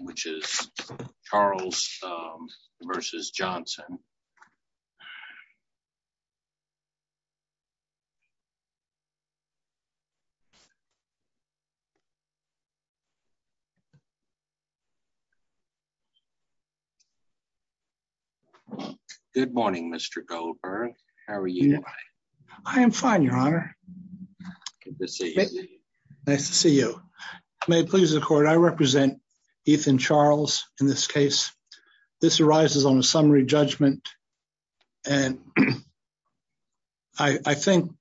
which is Charles v. Johnson. Good morning, Mr Goldberg. How are you? I am fine, Your Honor. Good to see you. Nice to see you. May it please the court, I represent Ethan Charles in this case. This arises on a summary judgment and I think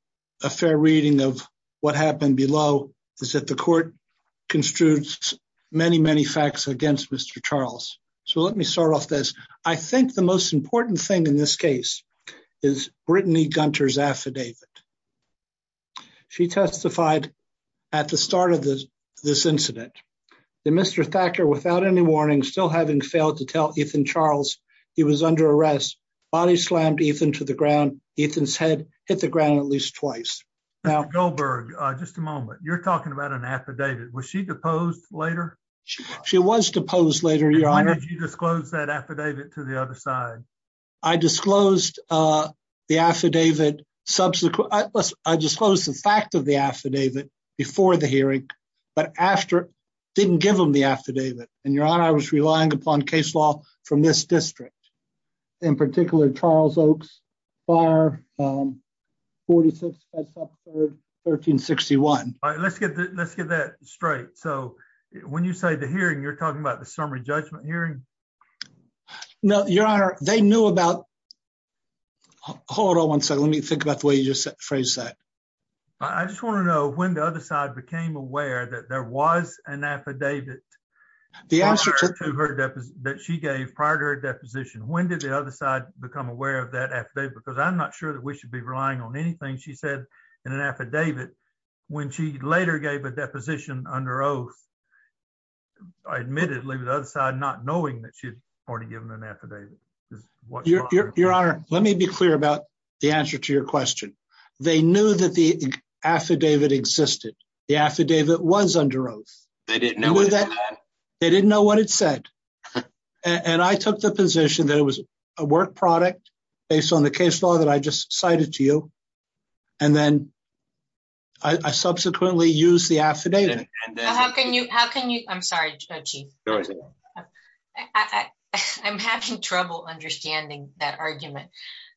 a fair reading of what happened below is that the court construed many, many facts against Mr. Charles. So let me start off this. I think the most important thing in this case is Brittany Gunter's affidavit. She testified at the start of this incident that Mr. Thacker, without any warning, still having failed to tell Ethan Charles he was under arrest, body slammed Ethan to the ground. Ethan's head hit the ground at least twice. Mr. Goldberg, just a moment. You're talking about an affidavit. Was she deposed later? She was deposed later, Your Honor. When did you disclose that affidavit to the other side? I disclosed the fact of the affidavit before the hearing, but didn't give them the affidavit. And, Your Honor, I was relying upon case law from this district. In particular, Charles Oaks, bar 46, 5th Street, 1361. Let's get that straight. So when you say the hearing, you're talking about the summary judgment hearing? No, Your Honor. They knew about... Hold on one second. Let me think about the way you phrased that. I just want to know when the other side became aware that there was an affidavit prior to her deposition. When did the other side become aware of that affidavit? Because I'm not sure that we should be relying on anything she said in an affidavit when she later gave a deposition under oath. Admittedly, the other side not knowing that she had already given an affidavit. Your Honor, let me be clear about the answer to your question. They knew that the affidavit existed. The affidavit was under oath. They didn't know what it said? They didn't know what it said. And I took the position that it was a work product based on the case law that I just cited to you. And then I subsequently used the affidavit. How can you... I'm sorry, Chief. I'm having trouble understanding that argument.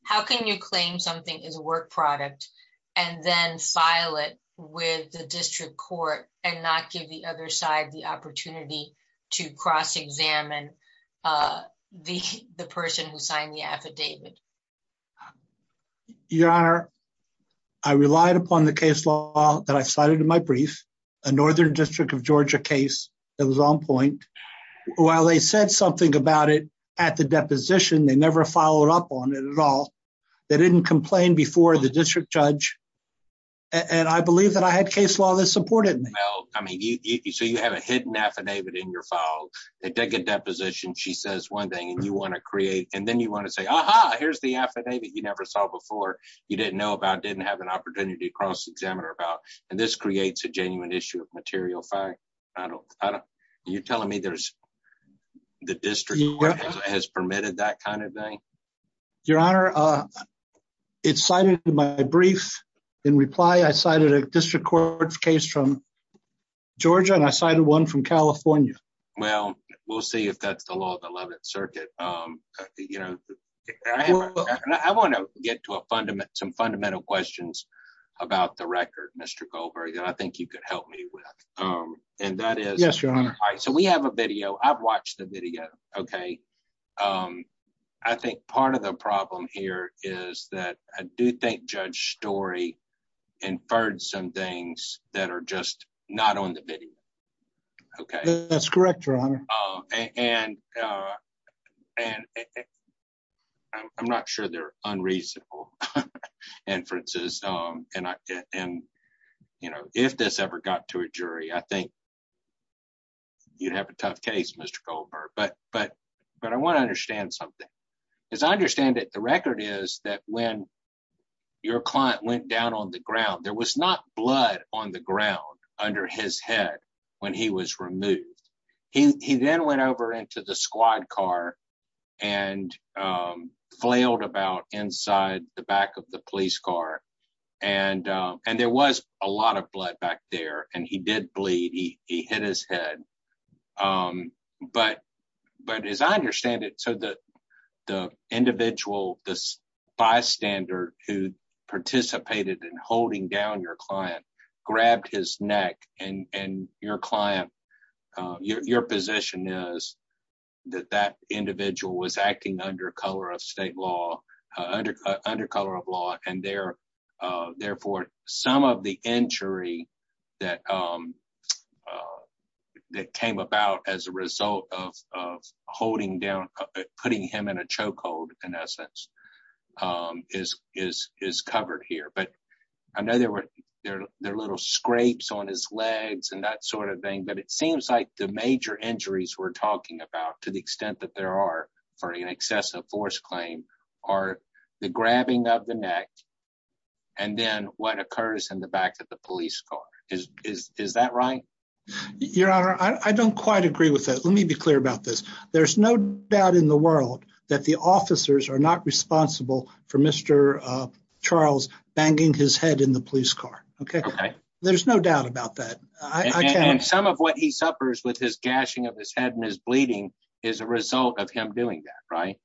How can you claim something is a work product and then file it with the district court and not give the other side the opportunity to cross-examine the person who signed the affidavit? Your Honor, I relied upon the case law that I cited in my brief, a Northern District of Georgia case that was on point. While they said something about it at the deposition, they never followed up on it at all. They didn't complain before the district judge. And I believe that I had case law that supported me. So you have a hidden affidavit in your file. It did get depositioned. She says one thing and you want to create... And then you want to say, aha, here's the affidavit you never saw before, you didn't know about, didn't have an opportunity to cross-examine her about. And this creates a genuine issue of material fact. Are you telling me the district court has permitted that kind of thing? Your Honor, it's cited in my brief. In reply, I cited a district court case from Georgia and I cited one from California. Well, we'll see if that's the law of the 11th Circuit. I want to get to some fundamental questions about the record, Mr. Goldberg, that I think you could help me with. And that is... Yes, Your Honor. So we have a video. I've watched the video. I think part of the problem here is that I do think Judge Story inferred some things that are just not on the video. That's correct, Your Honor. I'm not sure they're unreasonable inferences. If this ever got to a jury, I think you'd have a tough case, Mr. Goldberg. But I want to understand something. As I understand it, the record is that when your client went down on the ground, there was not blood on the ground under his head. When he was removed. He then went over into the squad car and flailed about inside the back of the police car. And there was a lot of blood back there. And he did bleed. He hit his head. But as I understand it, the individual, the bystander who participated in holding down your client grabbed his neck. And your client, your position is that that individual was acting under color of state law, under color of law. And therefore, some of the injury that came about as a result of holding down, putting him in a chokehold, in essence, is covered here. But I know there were little scrapes on his legs and that sort of thing. But it seems like the major injuries we're talking about, to the extent that there are for an excessive force claim, are the grabbing of the neck and then what occurs in the back of the police car. Is that right? Your Honor, I don't quite agree with that. Let me be clear about this. There's no doubt in the world that the officers are not responsible for Mr. Charles banging his head in the police car. There's no doubt about that. And some of what he suffers with his gashing of his head and his bleeding is a result of him doing that, right?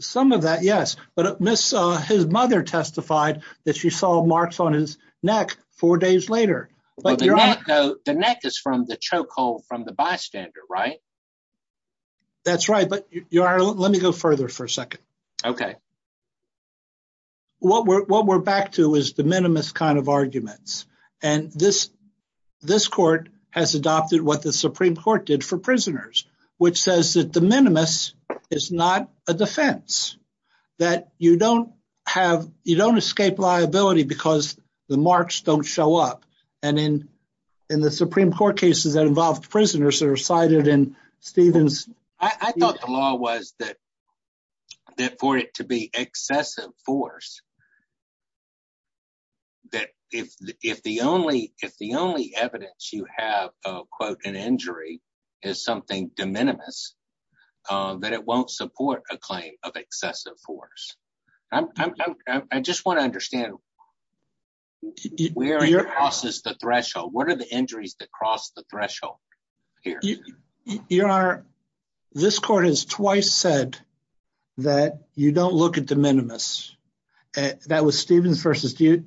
Some of that, yes. But his mother testified that she saw marks on his neck four days later. The neck is from the chokehold from the bystander, right? That's right. But let me go further for a second. Okay. What we're back to is de minimis kind of arguments. And this court has adopted what the Supreme Court did for prisoners, which says that de minimis is not a defense. That you don't escape liability because the marks don't show up. And in the Supreme Court cases that involved prisoners that are cited in Stephen's... I thought the law was that for it to be excessive force, that if the only evidence you have of, quote, an injury is something de minimis, that it won't support a claim of excessive force. I just want to understand where it crosses the threshold. What are the injuries that cross the threshold here? Your Honor, this court has twice said that you don't look at de minimis. That was Stevens v.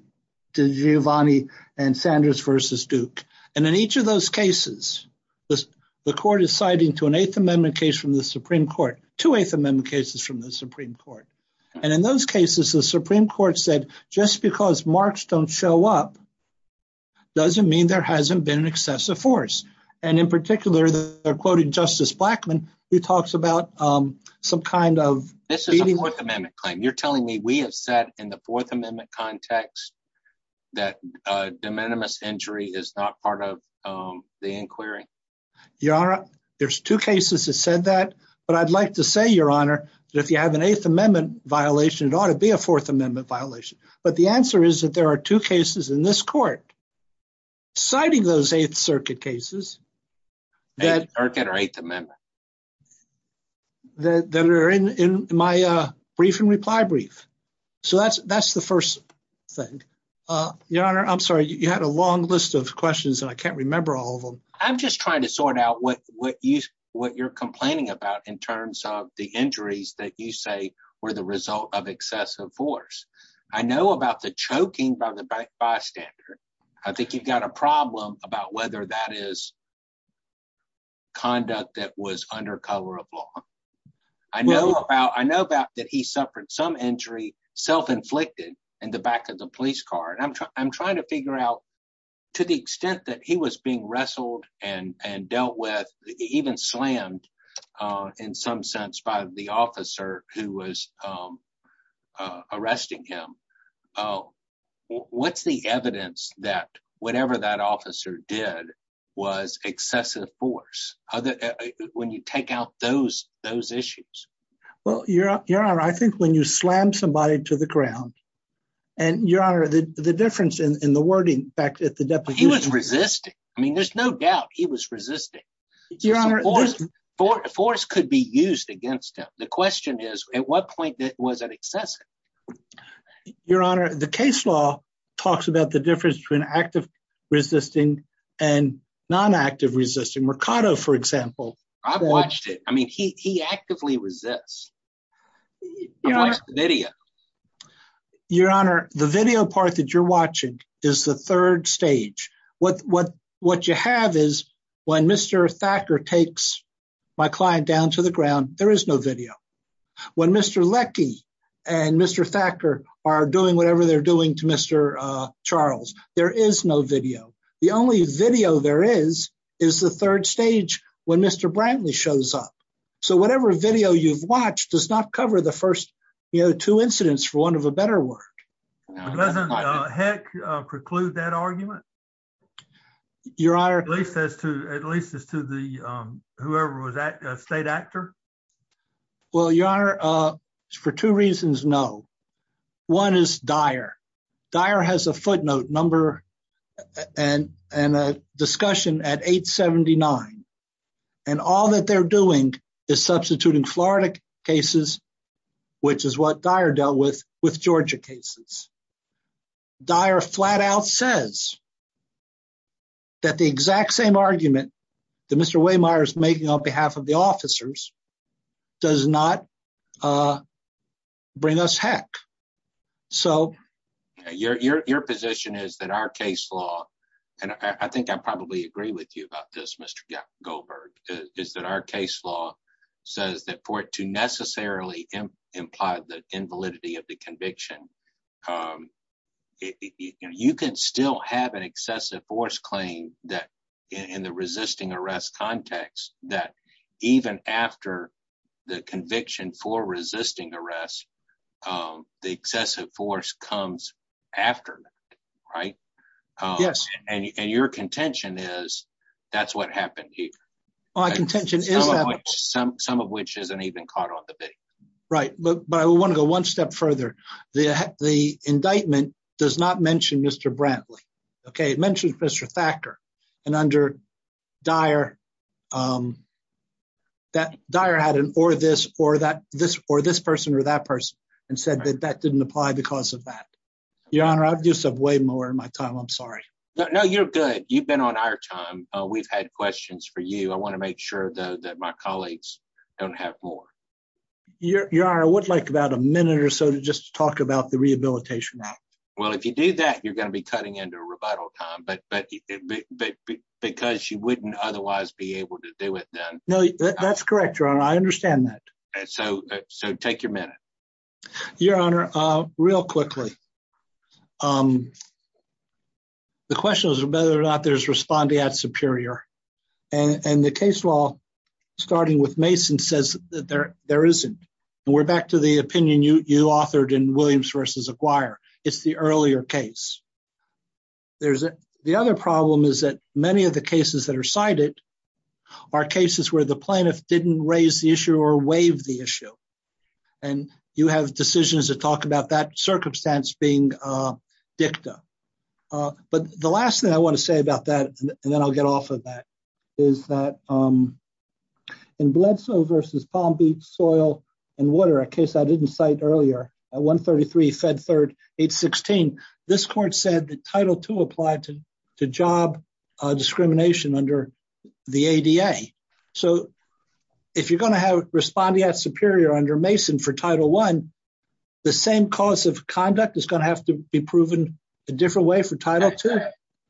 Giovanni and Sanders v. Duke. And in each of those cases, the court is citing to an Eighth Amendment case from the Supreme Court, two Eighth Amendment cases from the Supreme Court. And in those cases, the Supreme Court said just because marks don't show up doesn't mean there hasn't been excessive force. And in particular, they're quoting Justice Blackmun, who talks about some kind of... This is a Fourth Amendment claim. You're telling me we have said in the Fourth Amendment context that de minimis injury is not part of the inquiry? Your Honor, there's two cases that said that. But I'd like to say, Your Honor, that if you have an Eighth Amendment violation, it ought to be a Fourth Amendment violation. But the answer is that there are two cases in this court citing those Eighth Circuit cases. Eighth Circuit or Eighth Amendment? That are in my brief and reply brief. So that's the first thing. Your Honor, I'm sorry, you had a long list of questions and I can't remember all of them. I'm just trying to sort out what you're complaining about in terms of the injuries that you say were the result of excessive force. I know about the choking by the bystander. I think you've got a problem about whether that is conduct that was under color of law. I know about that he suffered some injury, self-inflicted, in the back of the police car. And I'm trying to figure out to the extent that he was being wrestled and dealt with, even slammed in some sense by the officer who was arresting him. What's the evidence that whatever that officer did was excessive force when you take out those issues? Well, Your Honor, I think when you slam somebody to the ground, and Your Honor, the difference in the wording back at the deputy. He was resisting. I mean, there's no doubt he was resisting. Force could be used against him. The question is, at what point was that excessive? Your Honor, the case law talks about the difference between active resisting and non-active resisting. Mercado, for example. I've watched it. I mean, he actively resists. I've watched the video. Your Honor, the video part that you're watching is the third stage. What you have is when Mr. Thacker takes my client down to the ground, there is no video. When Mr. Leckie and Mr. Thacker are doing whatever they're doing to Mr. Charles, there is no video. The only video there is, is the third stage when Mr. Brantley shows up. So whatever video you've watched does not cover the first, you know, two incidents for want of a better word. Doesn't Heck preclude that argument? At least as to whoever was a state actor? Well, Your Honor, for two reasons, no. One is Dyer. Dyer has a footnote number and a discussion at 879. And all that they're doing is substituting Florida cases, which is what Dyer dealt with, with Georgia cases. Dyer flat out says that the exact same argument that Mr. Wehmeyer is making on behalf of the officers does not bring us heck. Your position is that our case law, and I think I probably agree with you about this, Mr. Goldberg, is that our case law says that for it to necessarily imply the invalidity of the conviction, you can still have an excessive force claim that in the resisting arrest context, that even after the conviction for resisting arrest, the excessive force comes after, right? Yes. And your contention is that's what happened here. My contention is that... Some of which isn't even caught on the video. Right. But I want to go one step further. The indictment does not mention Mr. Brantley. It mentions Mr. Thacker. And under Dyer, Dyer had an or this, or that, this, or this person or that person and said that that didn't apply because of that. Your Honor, I've used up way more of my time. I'm sorry. No, you're good. You've been on our time. We've had questions for you. I want to make sure, though, that my colleagues don't have more. Your Honor, I would like about a minute or so to just talk about the Rehabilitation Act. Well, if you do that, you're going to be cutting into a rebuttal time, but because you wouldn't otherwise be able to do it then. No, that's correct, Your Honor. I understand that. So take your minute. Your Honor, real quickly. The question is whether or not there's respondeat superior. And the case law, starting with Mason, says that there isn't. And we're back to the opinion you authored in Williams v. Aguirre. It's the earlier case. The other problem is that many of the cases that are cited are cases where the plaintiff didn't raise the issue or waive the issue. And you have decisions that talk about that circumstance being dicta. But the last thing I want to say about that, and then I'll get off of that, is that in Bledsoe v. Palm Beach Soil and Water, a case I didn't cite earlier, at 133 Fed Third 816, this court said that Title II applied to job discrimination under the ADA. So if you're going to have respondeat superior under Mason for Title I, the same cause of conduct is going to have to be proven a different way for Title II.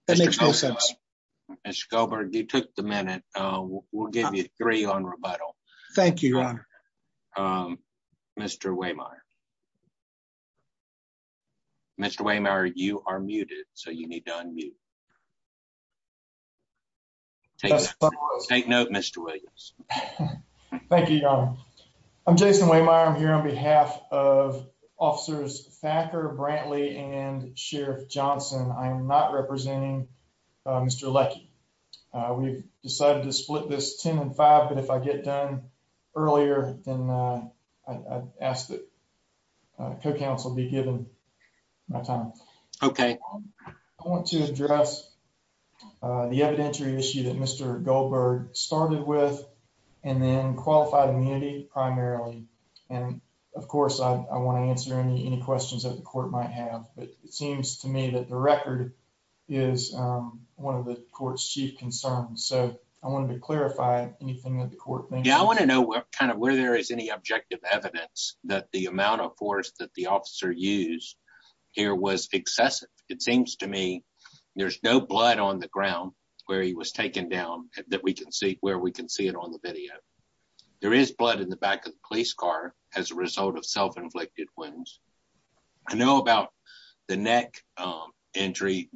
That makes no sense. Mr. Goldberg, you took the minute. We'll give you three on rebuttal. Thank you, Your Honor. Mr. Waymeyer. Mr. Waymeyer, you are muted, so you need to unmute. Take note, Mr. Williams. Thank you, Your Honor. I'm Jason Waymeyer. I'm here on behalf of Officers Thacker, Brantley, and Sheriff Johnson. I am not representing Mr. Leckie. We've decided to split this 10 and 5, but if I get done earlier, then I ask that co-counsel be given my time. Okay. I want to address the evidentiary issue that Mr. Goldberg started with, and then qualified immunity primarily. Of course, I want to answer any questions that the court might have, but it seems to me that the record is one of the court's chief concerns, so I wanted to clarify anything that the court thinks. I want to know where there is any objective evidence that the amount of force that the officer used here was excessive. It seems to me there's no blood on the ground where he was taken down that we can see where we can see it on the video. There is blood in the back of the police car as a result of self-inflicted wounds. I know about the neck injury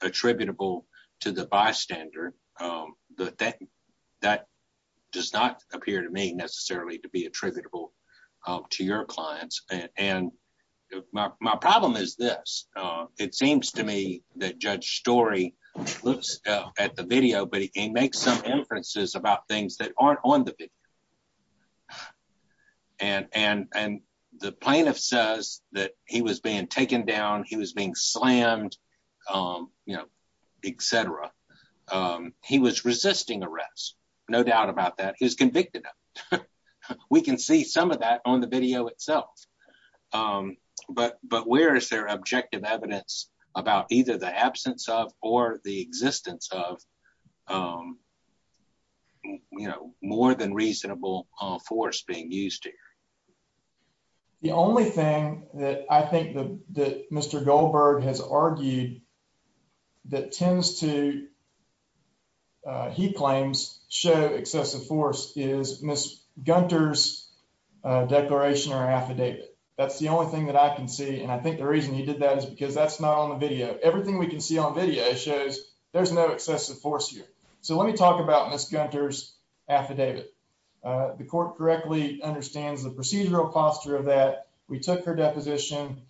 attributable to the bystander, but that does not appear to me necessarily to be attributable to your clients. My problem is this. It seems to me that Judge Story looks at the video, but he makes some inferences about things that aren't on the video. The plaintiff says that he was being taken down, he was being slammed, etc. He was resisting arrest, no doubt about that. He was convicted of it. We can see some of that on the video itself. But where is there objective evidence about either the absence of or the existence of more than reasonable force being used here? The only thing that I think that Mr. Goldberg has argued that tends to, he claims, show excessive force is Ms. Gunter's declaration or affidavit. That's the only thing that I can see, and I think the reason he did that is because that's not on the video. Everything we can see on video shows there's no excessive force here. So let me talk about Ms. Gunter's affidavit. The court correctly understands the procedural posture of that. We took her deposition.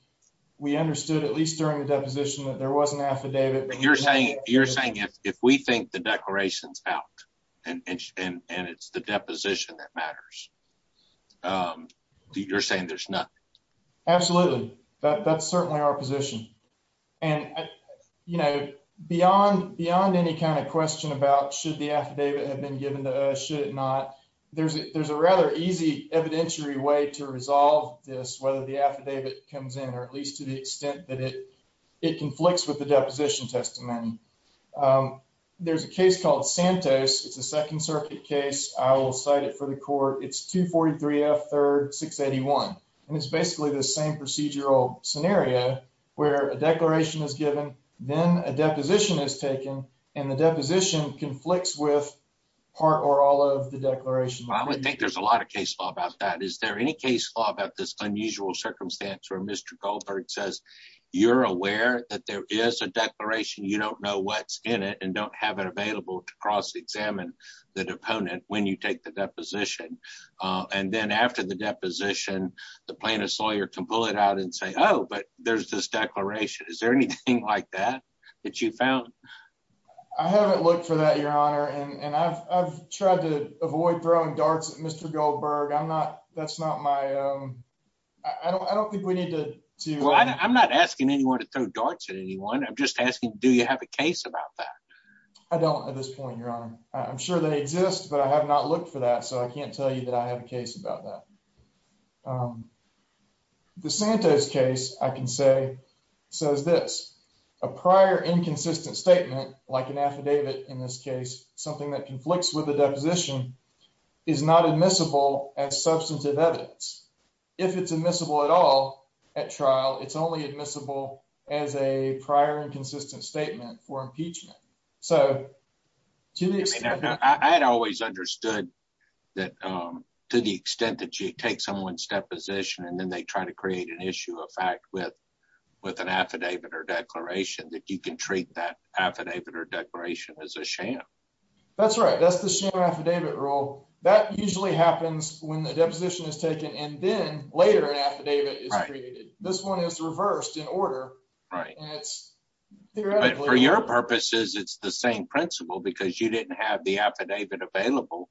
We understood, at least during the deposition, that there was an affidavit. You're saying if we think the declaration's out and it's the deposition that matters, you're saying there's nothing? Absolutely. That's certainly our position. And, you know, beyond any kind of question about should the affidavit have been given to us, should it not, there's a rather easy evidentiary way to resolve this, whether the affidavit comes in or at least to the extent that it conflicts with the deposition testimony. There's a case called Santos. It's a Second Circuit case. I will cite it for the court. It's 243 F 3rd 681, and it's basically the same procedural scenario where a declaration is given, then a deposition is taken, and the deposition conflicts with part or all of the declaration. I would think there's a lot of case law about that. Is there any case law about this unusual circumstance where Mr. Goldberg says you're aware that there is a declaration, you don't know what's in it, and don't have it available to cross-examine the deponent when you take the deposition? And then after the deposition, the plaintiff's lawyer can pull it out and say, oh, but there's this declaration. Is there anything like that that you found? I haven't looked for that, Your Honor, and I've tried to avoid throwing darts at Mr. Goldberg. I'm not, that's not my, I don't think we need to. Well, I'm not asking anyone to throw darts at anyone. I'm just asking, do you have a case about that? I don't at this point, Your Honor. I'm sure they exist, but I have not looked for that, so I can't tell you that I have a case about that. The Santos case, I can say, says this. A prior inconsistent statement, like an affidavit in this case, something that conflicts with the deposition, is not admissible as substantive evidence. If it's admissible at all at trial, it's only admissible as a prior inconsistent statement for impeachment. I had always understood that to the extent that you take someone's deposition and then they try to create an issue of fact with an affidavit or declaration, that you can treat that affidavit or declaration as a sham. That's right. That's the sham affidavit rule. That usually happens when the deposition is taken and then later an affidavit is created. This one is reversed in order. For your purposes, it's the same principle because you didn't have the affidavit available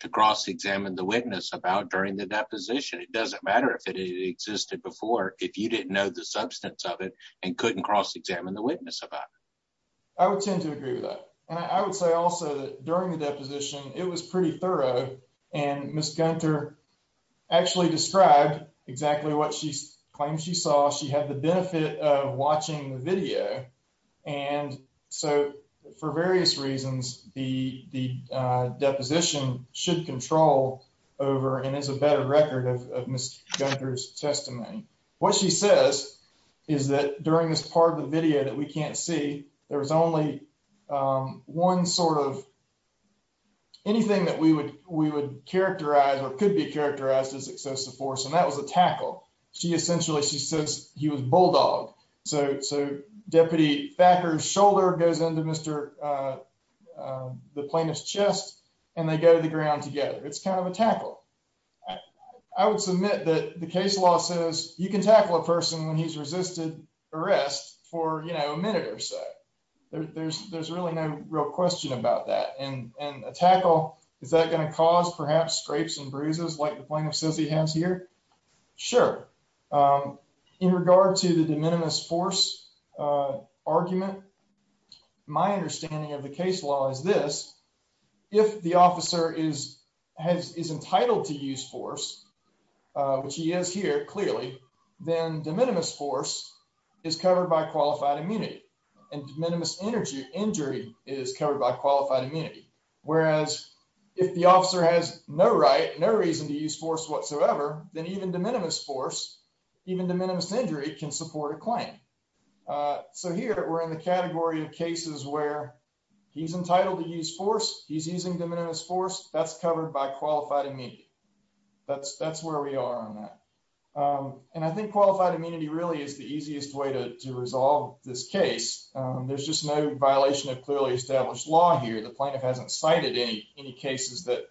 to cross-examine the witness about during the deposition. It doesn't matter if it existed before if you didn't know the substance of it and couldn't cross-examine the witness about it. I would tend to agree with that. I would say also that during the deposition, it was pretty thorough, and Ms. Gunter actually described exactly what she claims she saw. She had the benefit of watching the video. For various reasons, the deposition should control over and is a better record of Ms. Gunter's testimony. What she says is that during this part of the video that we can't see, there was only one sort of anything that we would characterize or could be characterized as excessive force, and that was a tackle. She essentially says he was a bulldog. So Deputy Thacker's shoulder goes into the plaintiff's chest, and they go to the ground together. It's kind of a tackle. I would submit that the case law says you can tackle a person when he's resisted arrest for a minute or so. There's really no real question about that. And a tackle, is that going to cause perhaps scrapes and bruises like the plaintiff says he has here? In regard to the de minimis force argument, my understanding of the case law is this. If the officer is entitled to use force, which he is here, clearly, then de minimis force is covered by qualified immunity, and de minimis injury is covered by qualified immunity. Whereas if the officer has no right, no reason to use force whatsoever, then even de minimis force, even de minimis injury, can support a claim. So here, we're in the category of cases where he's entitled to use force, he's using de minimis force, that's covered by qualified immunity. That's where we are on that. And I think qualified immunity really is the easiest way to resolve this case. There's just no violation of clearly established law here. The plaintiff hasn't cited any cases that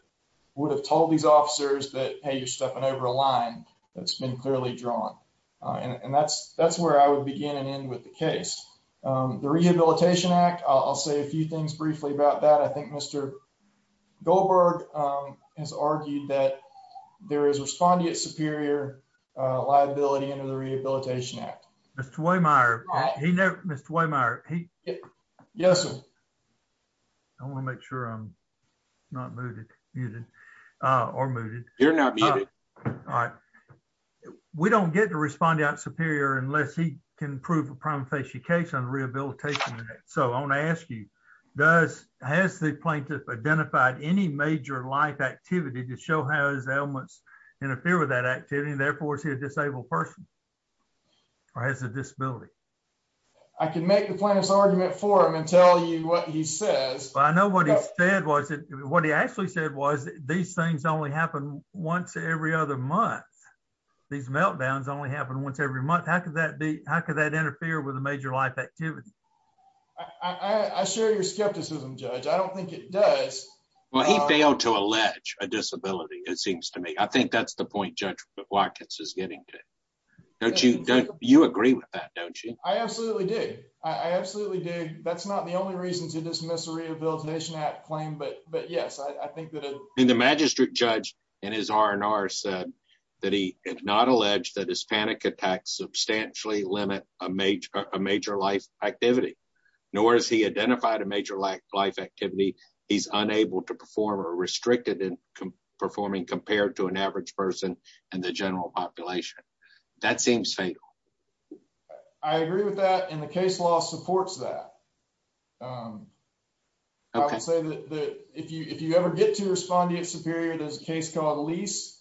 would have told these officers that, hey, you're stepping over a line that's been clearly drawn. And that's where I would begin and end with the case. The Rehabilitation Act, I'll say a few things briefly about that. I think Mr. Goldberg has argued that there is respondeat superior liability under the Rehabilitation Act. Mr. Wehmeyer, he... Yes, sir. I want to make sure I'm not muted. You're not muted. All right. We don't get to respondeat superior unless he can prove a prima facie case on the Rehabilitation Act. So I want to ask you, has the plaintiff identified any major life activity to show how his ailments interfere with that activity and therefore is he a disabled person or has a disability? I can make the plaintiff's argument for him and tell you what he says. But I know what he said was, what he actually said was, these things only happen once every other month. These meltdowns only happen once every month. How could that interfere with a major life activity? I share your skepticism, Judge. I don't think it does. Well, he failed to allege a disability, it seems to me. I think that's the point Judge Watkins is getting to. Don't you agree with that, don't you? I absolutely do. I absolutely do. That's not the only reason to dismiss a Rehabilitation Act claim, but yes, I think that... And the magistrate judge in his R&R said that he had not alleged that his panic attacks substantially limit a major life activity, nor has he identified a major life activity. He's unable to perform or restricted in performing compared to an average person in the general population. That seems fatal. I agree with that, and the case law supports that. I would say that if you ever get to respond to you at Superior, there's a case called Lease.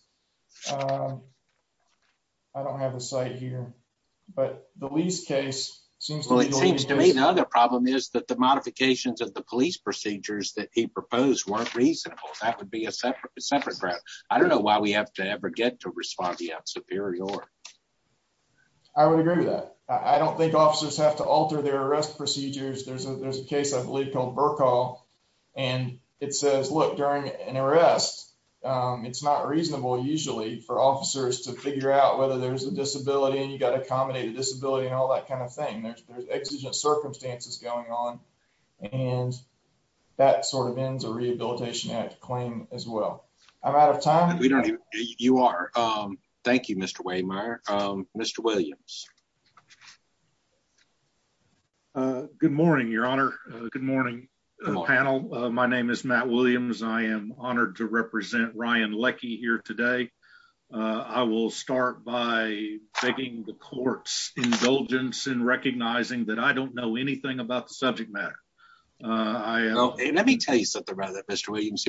I don't have a site here, but the Lease case seems to... Well, it seems to me the other problem is that the modifications of the police procedures that he proposed weren't reasonable. That would be a separate matter. I don't know why we have to ever get to respond to you at Superior. I would agree with that. I don't think officers have to alter their arrest procedures. There's a case I believe called Burkall, and it says, look, during an arrest, it's not reasonable, usually, for officers to figure out whether there's a disability and you've got to accommodate a disability and all that kind of thing. There's exigent circumstances going on, and that sort of ends a Rehabilitation Act claim as well. I'm out of time. You are. Thank you, Mr. Waymire. Mr. Williams. Good morning, Your Honor. Good morning, panel. My name is Matt Williams. I am honored to represent Ryan Leckie here today. I will start by taking the court's indulgence in recognizing that I don't know anything about the subject matter. Let me tell you something about that, Mr. Williams.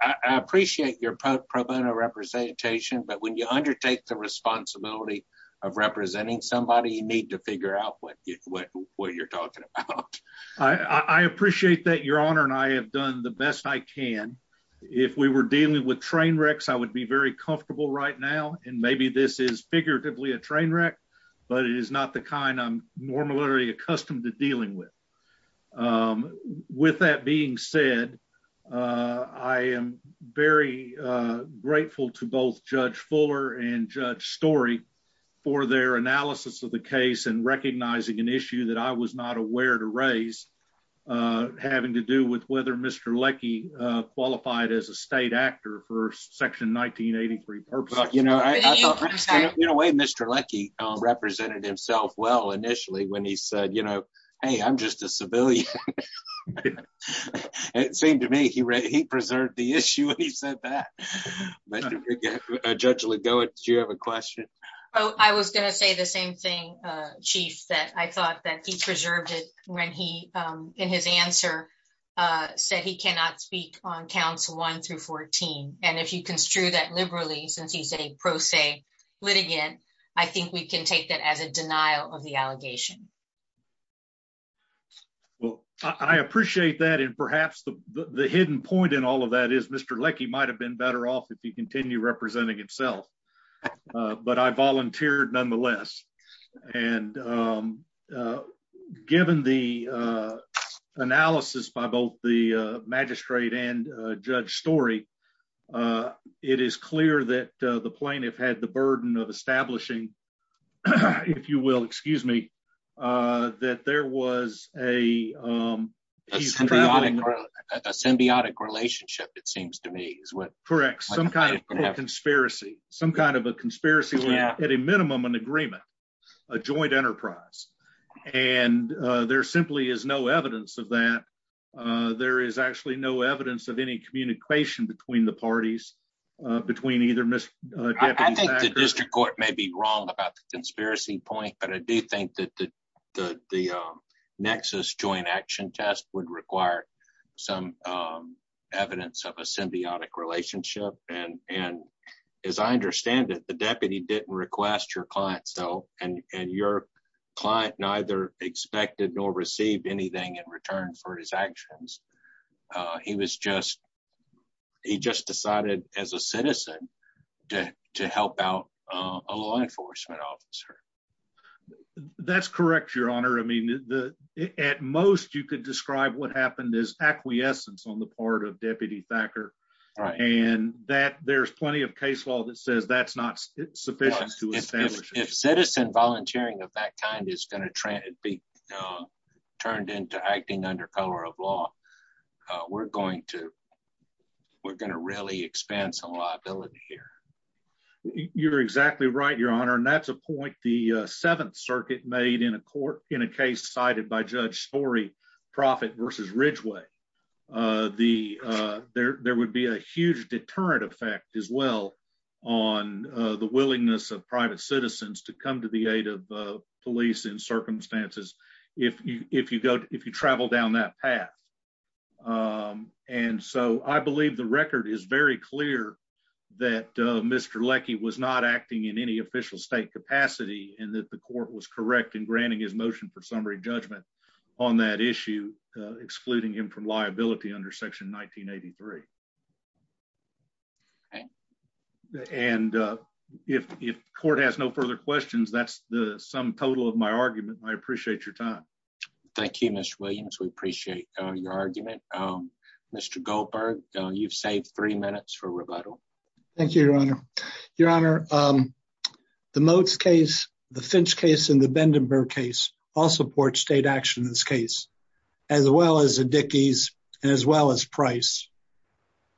I appreciate your pro bono representation, but when you undertake the responsibility of representing somebody, you need to figure out what you're talking about. I appreciate that, Your Honor, and I have done the best I can. If we were dealing with train wrecks, I would be very comfortable right now, and maybe this is figuratively a train wreck, but it is not the kind I'm normally accustomed to dealing with. With that being said, I am very grateful to both Judge Fuller and Judge Story for their analysis of the case and recognizing an issue that I was not aware to raise having to do with whether Mr. Leckie qualified as a state actor for Section 1983 purposes. In a way, Mr. Leckie represented himself well initially when he said, hey, I'm just a civilian. It seemed to me he preserved the issue when he said that. Judge Legowicz, do you have a question? I was going to say the same thing, Chief, that I thought that he preserved it when he, in his answer, said he cannot speak on counts 1 through 14, and if you construe that liberally since he's a pro se litigant, I think we can take that as a denial of the allegation. Well, I appreciate that, and perhaps the hidden point in all of that is Mr. Leckie might have been better off if he continued representing himself, but I volunteered nonetheless. And given the analysis by both the magistrate and Judge Story, it is clear that the plaintiff had the burden of establishing, if you will, excuse me, that there was a... A symbiotic relationship, it seems to me. Correct. Some kind of conspiracy. Some kind of a conspiracy, at a minimum, an agreement, a joint enterprise. And there simply is no evidence of that. There is actually no evidence of any communication between the parties, between either Mr. Leckie... I think the district court may be wrong about the conspiracy point, but I do think that the Nexus joint action test would require some evidence of a symbiotic relationship. And as I understand it, the deputy didn't request your client's help, and your client neither expected nor received anything in return for his actions. He was just... He just decided as a citizen to help out a law enforcement officer. That's correct, Your Honor. I mean, at most, you could describe what happened as acquiescence on the part of Deputy Thacker. And there's plenty of case law that says that's not sufficient to establish... If citizen volunteering of that kind is going to be turned into acting under color of law, we're going to really expand some liability here. You're exactly right, Your Honor. And that's a point the Seventh Circuit made in a case cited by Judge Story, Proffitt versus Ridgway. There would be a huge deterrent effect as well on the willingness of private citizens to come to the aid of police in circumstances if you travel down that path. And so I believe the record is very clear that Mr. Leckie was not acting in any official state capacity and that the court was correct in granting his motion for summary judgment on that issue, excluding him from liability under Section 1983. Okay. And if the court has no further questions, that's the sum total of my argument. I appreciate your time. Thank you, Mr. Williams. We appreciate your argument. Mr. Goldberg, you've saved three minutes Thank you, Your Honor. Your Honor, the Motes case, the Finch case, and the Bendenburg case all support state action in this case, as well as the Dickey's and as well as Price.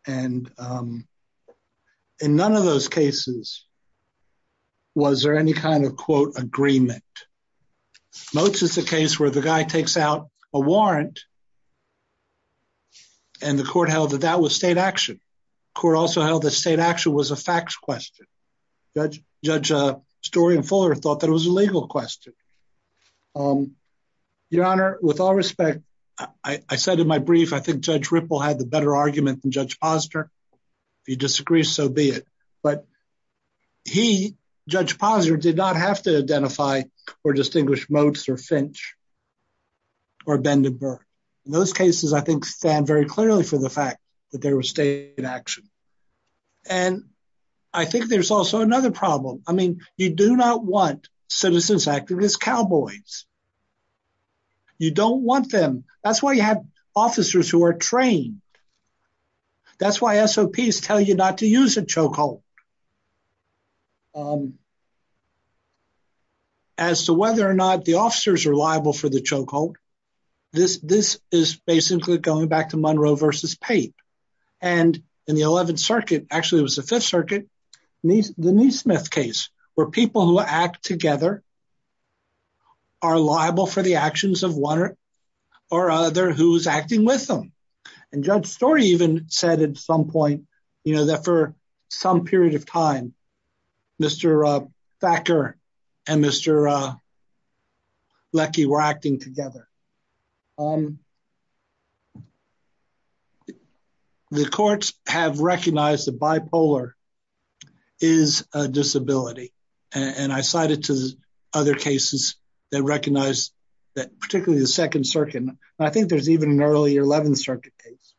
And in none of those cases was there any kind of, quote, agreement. Motes is a case where the guy takes out a warrant and the court held that that was state action. That there was state action was a facts question. Judge Story and Fuller thought that it was a legal question. Your Honor, with all respect, I said in my brief, I think Judge Ripple had the better argument than Judge Posner. If you disagree, so be it. But he, Judge Posner, did not have to identify or distinguish Motes or Finch or Bendenburg. In those cases, I think stand very clearly for the fact that there was state action. And I think there's also another problem. I mean, you do not want citizens acting as cowboys. You don't want them. That's why you have officers who are trained. That's why SOPs tell you not to use a chokehold. As to whether or not the officers are liable for the chokehold, this is basically going back to Monroe versus Pape. And in the 11th Circuit, actually it was the 5th Circuit, the Neesmith case, where people who act together are liable for the actions of one or other who's acting with them. And Judge Story even said at some point that for some period of time, Mr. Thacker and Mr. Leckie were acting together. The courts have recognized the bipolar is a disability. And I cited to other cases that recognize that, particularly the 2nd Circuit. And I think there's even an earlier 11th Circuit case.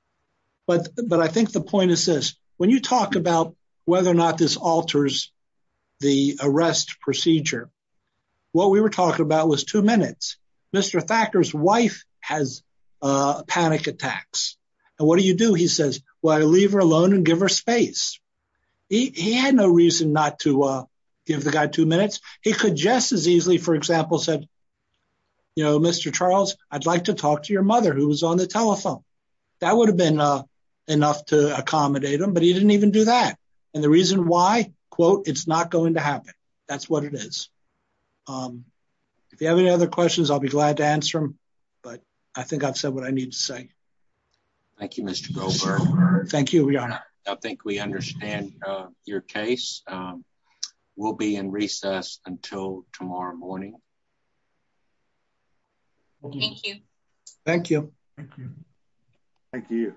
But I think the point is this. When you talk about whether or not this alters the arrest procedure, what we were talking about was two minutes. Mr. Thacker's wife has panic attacks. And what do you do? He says, well, I leave her alone and give her space. He had no reason not to give the guy two minutes. He could just as easily, for example, said, you know, Mr. Charles, I'd like to talk to your mother who was on the telephone. That would have been enough to accommodate him, but he didn't even do that. And the reason why, quote, it's not going to happen. That's what it is. If you have any other questions, I'll be glad to answer them. But I think I've said what I need to say. Thank you, Mr. Goldberg. Thank you, Your Honor. I think we understand your case. We'll be in recess until tomorrow morning. Thank you. Thank you. Thank you.